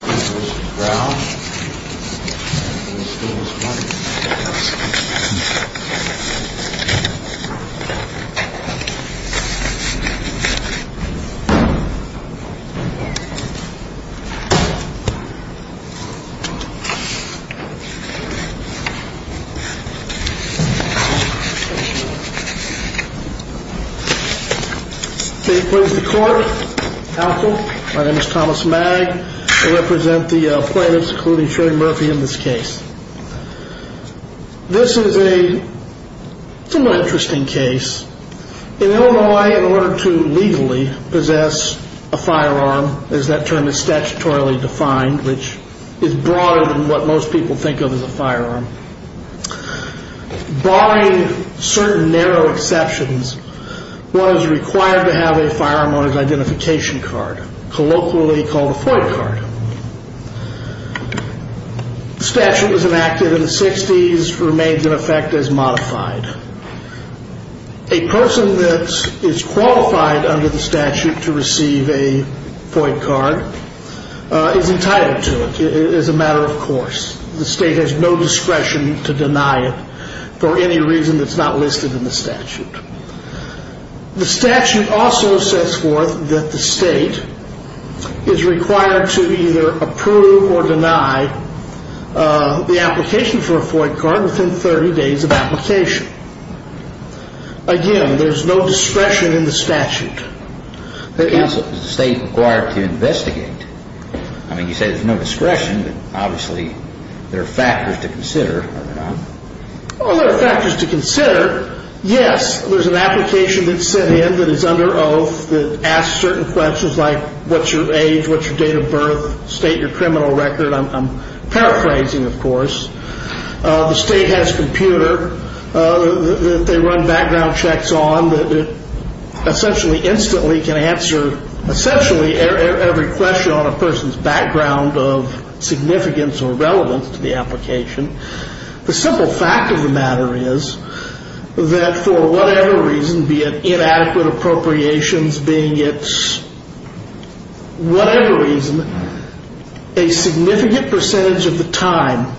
th and coping court hasn't come from president the sherry murphy in this case this is a somewhat interesting case in illinois in order to legally possess a firearm as that term is statutorily defined which is broader than what most people think of as a firearm barring certain narrow exceptions one is required to have a firearm on his identification card colloquially called a FOIC card the statute was enacted in the sixties and remains in effect as modified a person that is qualified under the statute to receive a FOIC card is entitled to it, it is a matter of course the state has no discretion to deny it for any reason that's not listed in the statute the statute also sets forth that the state is required to either approve or deny the application for a FOIC card within thirty days of application again there's no discretion in the statute is the state required to investigate? I mean you say there's no discretion, but obviously there are factors to consider, are there not? well there are factors to consider yes there's an application that's sent in that is under oath that asks certain questions like what's your age, what's your date of birth, state your criminal record I'm paraphrasing of course uh... the state has a computer uh... they run background checks on essentially instantly can answer essentially every question on a person's background of significance or relevance to the application the simple fact of the matter is that for whatever reason be it inadequate appropriations being it's whatever reason a significant percentage of the time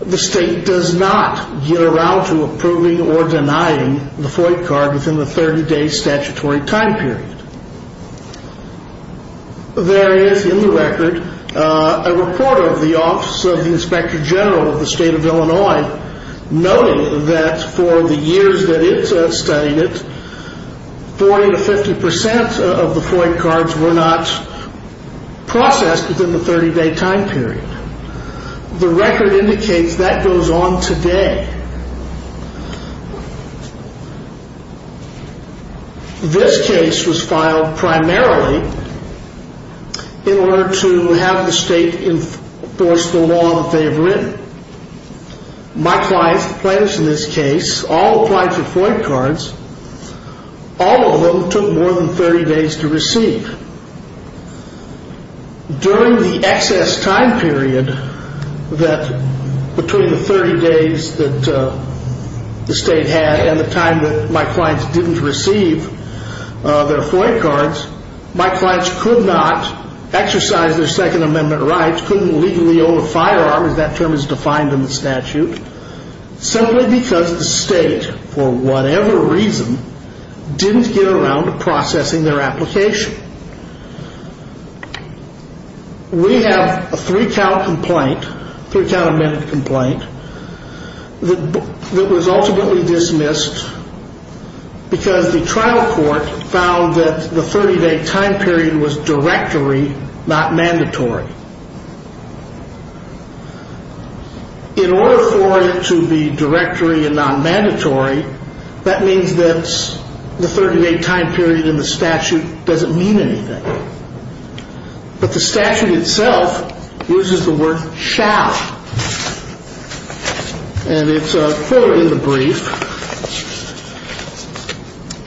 the state does not get around to approving or denying the FOIC card within the thirty day statutory time period there is in the record uh... a reporter of the office of the inspector general of the state of Illinois noting that for the years that it studied it forty to fifty percent of the FOIC cards were not processed within the thirty day time period the record indicates that goes on today this case was filed primarily in order to have the state enforce the law that they have written my clients, the plaintiffs in this case all applied for FOIC cards all of them took more than thirty days to receive during the excess time period that between the thirty days that uh... the state had and the time that my clients didn't receive uh... their FOIC cards my clients could not exercise their second amendment rights couldn't legally own a firearm as that term is defined in the statute simply because the state for whatever reason didn't get around to processing their application we have a three count complaint three count amended complaint that was ultimately dismissed because the trial court found that the thirty day time period was directory not mandatory in order for it to be directory and not mandatory that means that the thirty day time period in the statute doesn't mean anything but the statute itself uses the word shall and it's a quote in the brief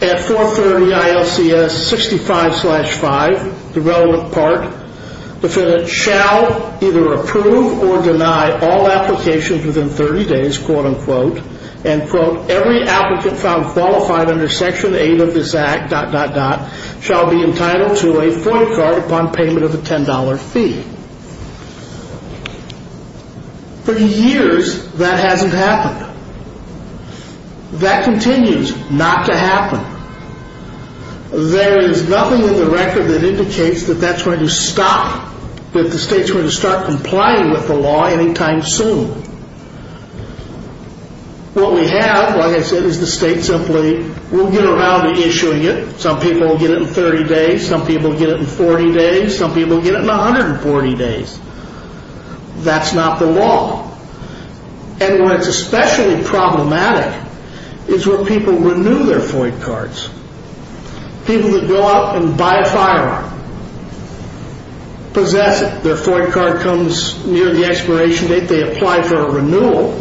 at 430 ILCS 65-5 the relevant part the defendant shall either approve or deny all applications within thirty days quote unquote and quote every applicant found qualified under section 8 of this act dot dot dot shall be entitled to a FOIC card upon payment of a ten dollar fee for years that hasn't happened that continues not to happen there is nothing in the record that indicates that that's going to stop that the states going to start complying with the law anytime soon what we have like I said is the state simply will get around to issuing it some people will get it in thirty days some people will get it in forty days some people will get it in a hundred and forty days that's not the law and where it's especially problematic is where people renew their FOIC cards people that go out and buy a firearm possess it their FOIC card comes near the expiration date they apply for a renewal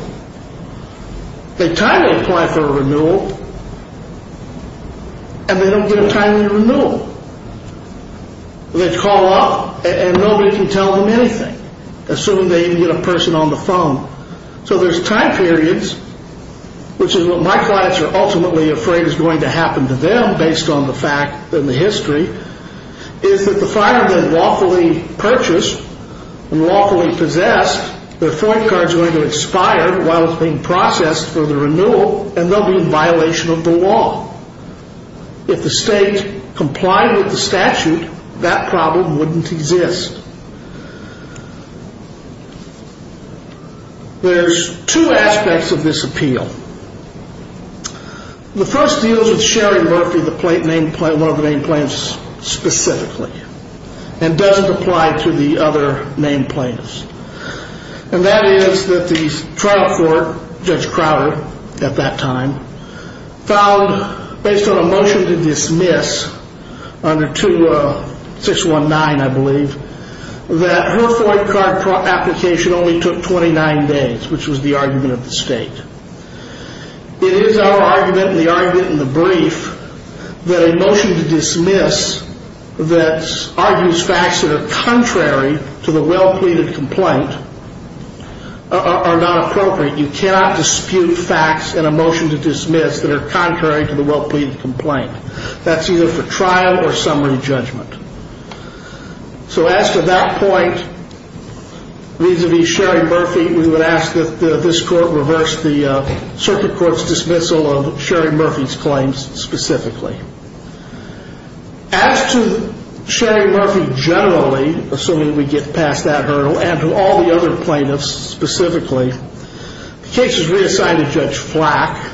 they timely apply for a renewal and they don't get a timely renewal they call up and nobody can tell them anything assume they didn't get a person on the phone so there's time periods which is what my clients are ultimately afraid is going to happen to them based on the fact and the history is that the firearm they've lawfully purchased and lawfully possessed their FOIC card is going to expire while it's being processed for the renewal and they'll be in violation of the law if the state complied with the statute that problem wouldn't exist there's two aspects of this appeal the first deals with Sherry Murphy one of the named plaintiffs specifically and doesn't apply to the other named plaintiffs and that is that the trial for Judge Crowder at that time found based on a motion to dismiss under 2619 I believe that her FOIC card application only took 29 days which was the argument of the state it is our argument and the argument in the brief that a motion to dismiss that argues facts that are contrary to the well pleaded complaint are not appropriate you cannot dispute facts in a motion to dismiss that are contrary to the well pleaded complaint that's either for trial or summary judgment so as to that point vis-a-vis Sherry Murphy we would ask that this court reverse the circuit court's dismissal of Sherry Murphy's claims specifically as to Sherry Murphy generally assuming we get past that hurdle and to all the other plaintiffs specifically the case is reassigned to Judge Flack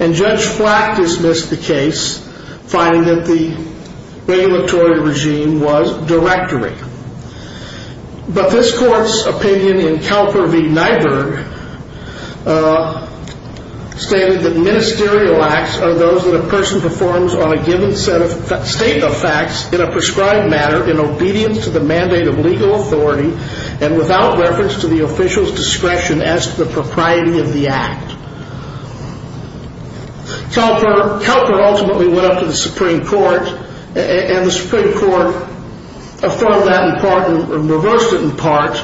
and Judge Flack dismissed the case finding that the regulatory regime was directory but this court's opinion in Calper v. Nyberg stated that ministerial acts are those that a person performs on a given state of facts in a prescribed manner in obedience to the mandate of legal authority and without reference to the official's discretion as to the propriety of the act Calper ultimately went up to the Supreme Court and the Supreme Court affirmed that in part and reversed it in part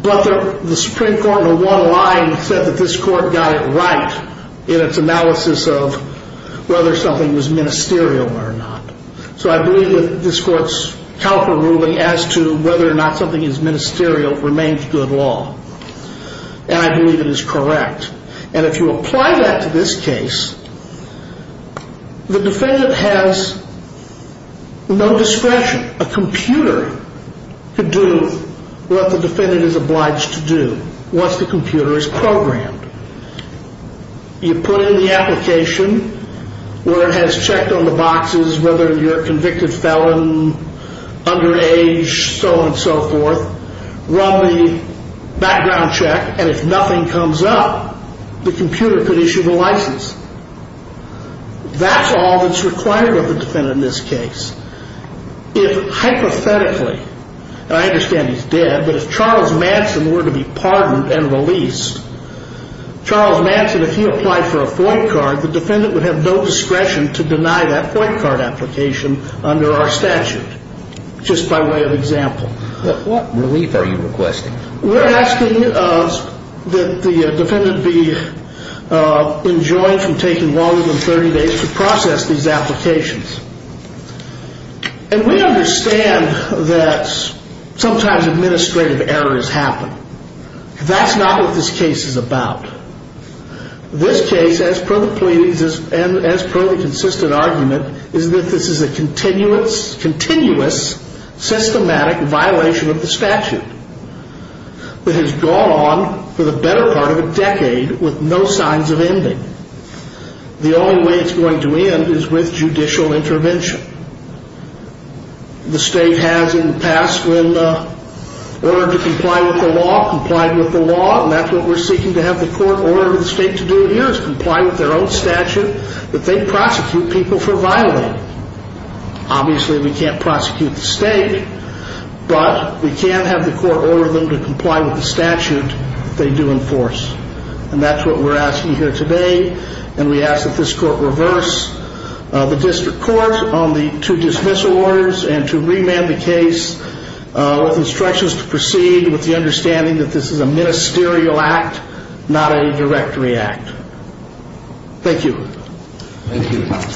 but the Supreme Court in one line said that this court got it right in its analysis of whether something was ministerial or not so I believe that this court's Calper ruling as to whether or not something is ministerial remains good law and I believe it is correct and if you apply that to this case the defendant has no discretion a computer could do what the defendant is obliged to do once the computer is programmed you put in the application where it has checked on the boxes whether you're a convicted felon underage so on and so forth run the background check and if nothing comes up the computer could issue the license that's all that's required of the defendant in this case if hypothetically and I understand he's dead but if Charles Manson were to be pardoned and released Charles Manson and if he applied for a FOINT card the defendant would have no discretion to deny that FOINT card application under our statute just by way of example what relief are you requesting? we're asking that the defendant be enjoined from taking longer than 30 days to process these applications and we understand that sometimes administrative errors happen that's not what this case is about this case as per the consistent argument is that this is a continuous systematic violation of the statute that has gone on for the better part of a decade with no signs of ending the only way it's going to end is with judicial intervention the state has in the past when ordered to comply with the law and that's what we're seeking to have the court order the state to do here is comply with their own statute that they prosecute people for violating obviously we can't prosecute the state but we can have the court order them to comply with the statute that they do enforce and that's what we're asking here today and we ask that this court reverse the district court on the two dismissal orders and to remand the case with instructions to proceed with the understanding that this is a ministerial act not a directory act thank you thank you counsel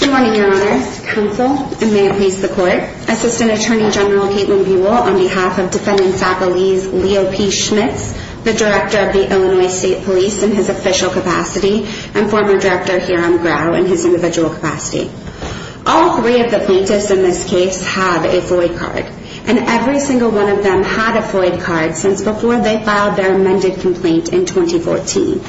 good morning your honor counsel and may it please the court assistant attorney general on behalf of defendant's faculty Leo P. Schmitz the director of the Illinois state police in his official capacity and former director Hiram Grau in his individual capacity all three of the plaintiffs in this case have a void card and every single one of them had a void card since before they filed their amended complaint in 2014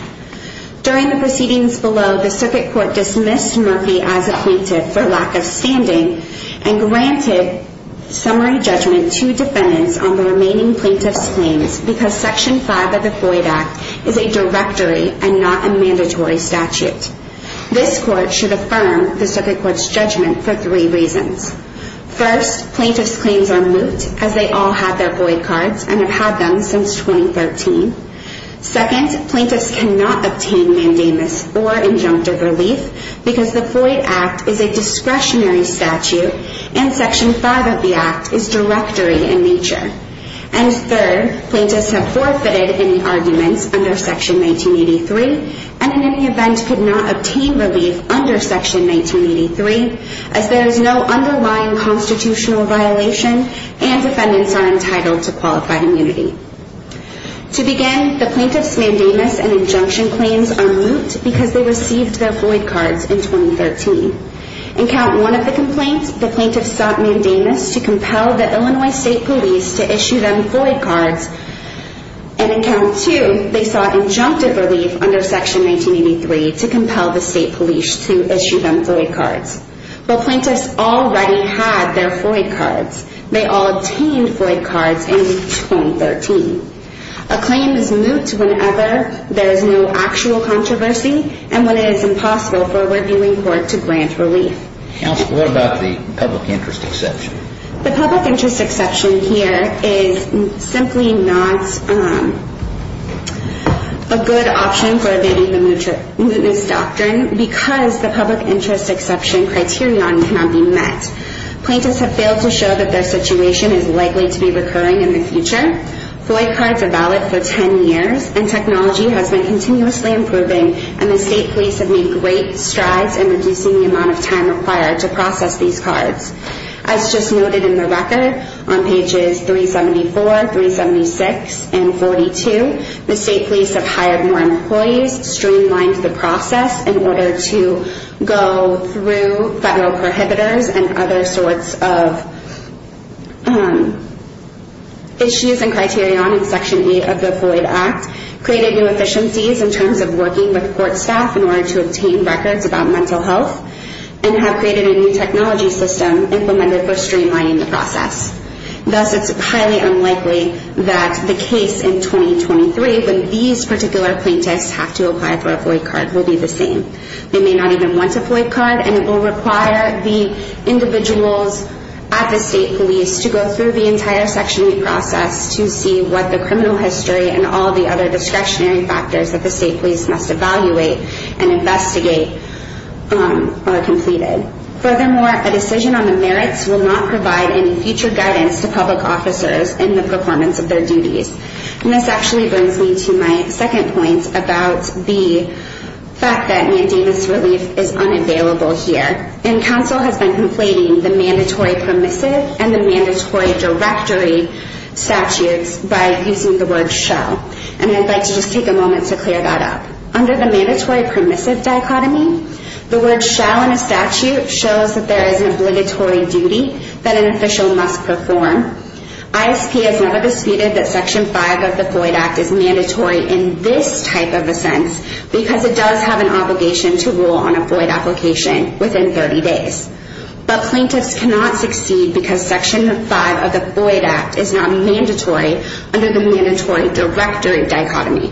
during the proceedings below the circuit court dismissed Murphy as a plaintiff for lack of standing and granted summary judgment to defendants on the remaining plaintiffs claims because section 5 of the void act is a directory and not a mandatory statute this court should affirm the circuit court's judgment for three reasons first, plaintiffs claims are moot as they all have their void cards and have had them since 2013 second, plaintiffs cannot obtain mandamus or injunctive relief because the void act is a discretionary statute and section 5 of the act is directory in nature and third, plaintiffs have forfeited any arguments under section 1983 and in any event could not obtain relief under section 1983 as there is no underlying constitutional violation and defendants are entitled to qualified immunity to begin the plaintiffs mandamus and injunction claims are moot because they received their void cards in 2013 in count one of the complaints the plaintiffs sought mandamus to compel the Illinois state police to issue them void cards and in count two they sought injunctive relief under section 1983 to compel the state police to issue them void cards but plaintiffs already had their void cards they all obtained void cards in 2013 a claim is moot whenever there is no actual controversy and when it is impossible for a reviewing court to grant relief counsel what about the public interest exception the public interest exception here is simply not a good option for evading the mootness doctrine because the public interest exception criterion cannot be met plaintiffs have failed to show that their situation is likely to be recurring in the future, void cards are valid for ten years and technology has been continuously improving and the state police have made great strides in reducing the amount of time required to process these cards as just noted in the record on pages 374, 376 and 42 the state police have hired more employees streamlined the process in order to go through federal prohibitors and other sorts of issues and criterion in section 8 of the void act created new efficiencies in terms of working with court staff in order to obtain records about mental health and have created a new technology system implemented for streamlining the process thus it is highly unlikely that the case in 2023 when these particular plaintiffs have to apply for a void card will be the same they may not even want a void card and it will require the individuals at the state police to go through the entire section 8 process to see what the criminal history and all the other discretionary factors that the state police must evaluate and investigate are completed furthermore, a decision on the merits will not provide any future guidance to public officers in the performance of their duties and this actually brings me to my second point about the fact that mandamus relief is unavailable here and council has been complaining the mandatory permissive and the mandatory directory statutes by using the word shall and I'd like to just take a moment to clear that up under the mandatory permissive dichotomy the word shall in a statute shows that there is an obligatory duty that an official must perform ISP has never disputed that section 5 of the void act is mandatory in this type of a sense because it does have an obligation to rule on a void application within 30 days but plaintiffs cannot succeed because section 5 of the void act is not mandatory under the mandatory directory dichotomy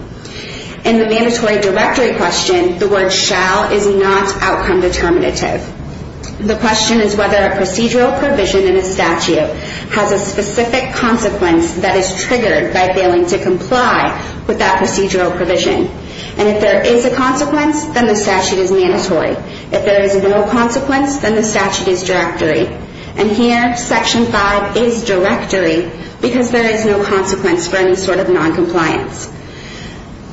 in the mandatory directory question the word shall is not outcome determinative the question is whether a procedural provision in a statute has a specific consequence that is triggered by failing to comply with that procedural provision and if there is a consequence then the statute is mandatory if there is no consequence then the statute is directory and here section 5 is directory because there is no consequence for any sort of non-compliance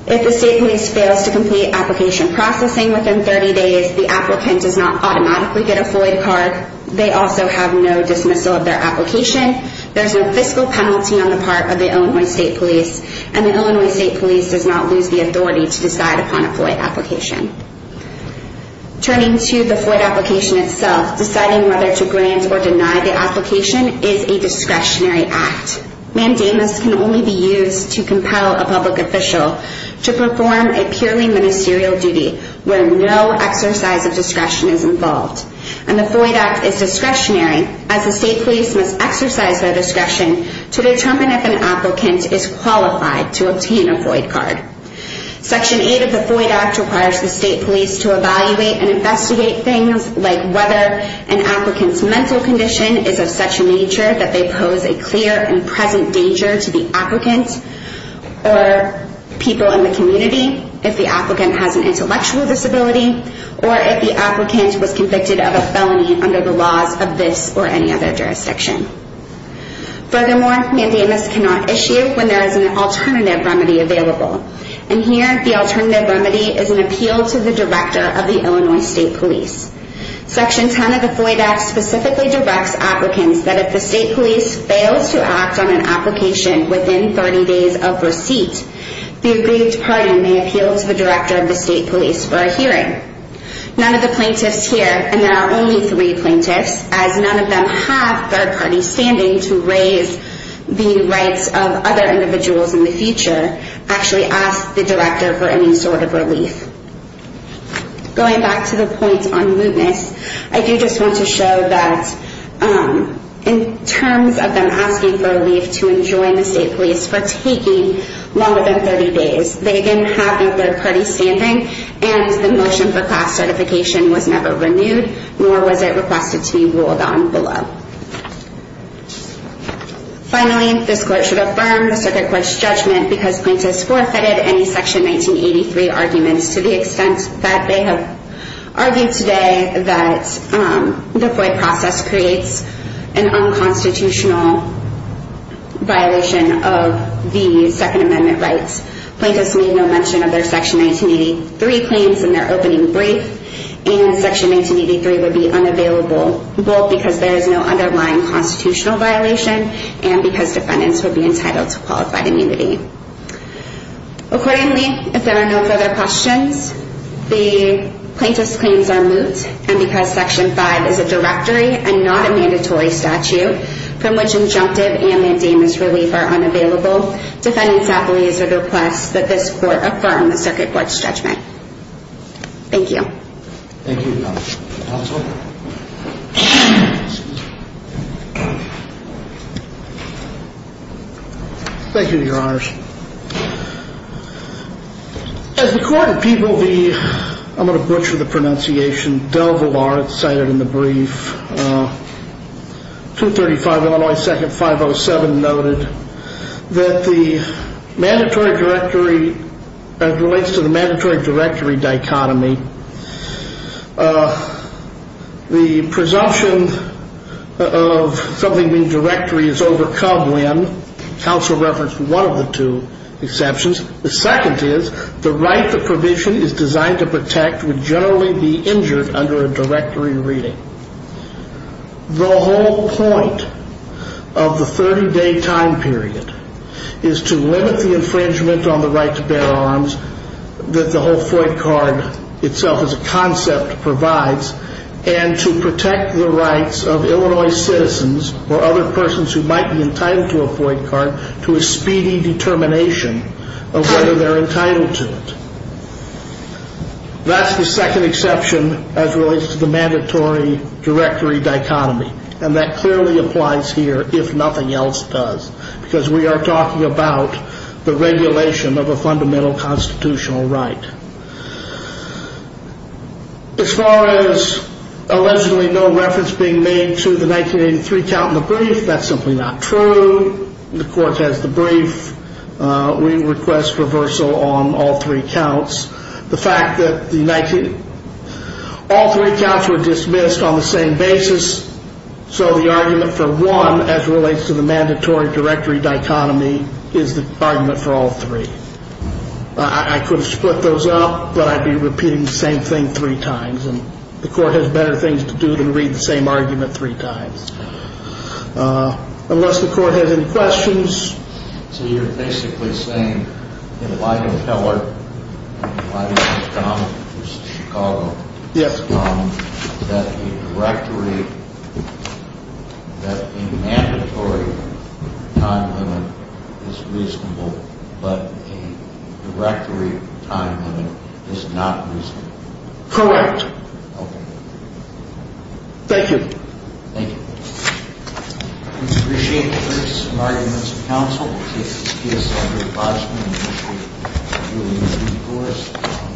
if the state police fails to complete application processing within 30 days the applicant does not automatically get a void card they also have no dismissal of their application, there is no fiscal penalty on the part of the Illinois State Police and the Illinois State Police does not lose the authority to decide upon a void application turning to the void application itself deciding whether to grant or deny the application is a discretionary act, mandamus can only be used to compel a public official to perform a purely ministerial duty where no exercise of discretion is involved and the void act is discretionary as the state police must exercise their discretion to determine if an applicant is qualified to obtain a void card section 8 of the void act requires the state police to evaluate and investigate things like whether an applicant's mental condition is of such a nature that they pose a clear and present danger to the applicant or people in the community if the applicant has an intellectual disability or if the applicant was convicted of a felony under the laws of this or any other jurisdiction furthermore mandamus cannot issue when there is an alternative remedy available and here the alternative remedy is an appeal to the director of the Illinois state police section 10 of the void act specifically directs applicants that if the state police fails to act on an application within 30 days of receipt the agreed party may appeal to the director of the state police for a hearing none of the plaintiffs here, and there are only three plaintiffs as none of them have third party standing to raise the rights of other individuals in the future actually ask the director for any sort of relief going back to the point on mootness I do just want to show that in terms of them asking for relief to enjoin the state police for taking longer than 30 days they again have third party standing and the motion for class certification was never renewed nor was it requested to be ruled on below finally this court should affirm the circuit court's judgment because plaintiffs forfeited any section 1983 arguments to the extent that they have argued today that the void process creates an unconstitutional violation of the second amendment rights plaintiffs made no mention of their section 1983 claims in their opening brief and section 1983 would be unavailable both because there is no underlying constitutional violation and because defendants would be entitled to qualified immunity accordingly if there are no further questions the plaintiffs claims are moot and because section 5 is a directory and not a mandatory statute from which injunctive and mandamus relief are unavailable defendants appellees would request that this court affirm the circuit court's judgment thank you thank you counsel thank you your honors as the court of people the I'm going to butcher the pronunciation cited in the brief 235 Illinois 2nd 507 noted that the mandatory directory relates to the mandatory directory dichotomy the presumption of something being directory is overcome when counsel referenced one of the two exceptions the second is the right the provision is designed to protect would generally be injured under a directory reading the whole point of the 30 day time period is to limit the infringement on the right to bear arms that the whole FOID card itself as a concept provides and to protect the rights of Illinois citizens or other persons who might be entitled to a FOID card to a speedy determination of whether they're entitled to it that's the second exception as relates to the mandatory directory dichotomy and that clearly applies here if nothing else does because we are talking about the regulation of a fundamental constitutional right as far as allegedly no reference being made to the 1983 count in the brief that's simply not true the court has the brief we request reversal on all three counts the fact that all three counts were dismissed on the same basis so the argument for one as relates to the mandatory directory dichotomy is the argument for all three I could have split those up but I'd be repeating the same thing three times the court has better things to do than read the same argument three times unless the court has any questions so you're basically saying that Elijah Keller and Elijah McCombs Chicago that the directory that a mandatory time limit is reasonable but a directory time limit is not reasonable correct thank you thank you we appreciate the briefs and arguments of counsel we'll take this case under advisement and initiate a new course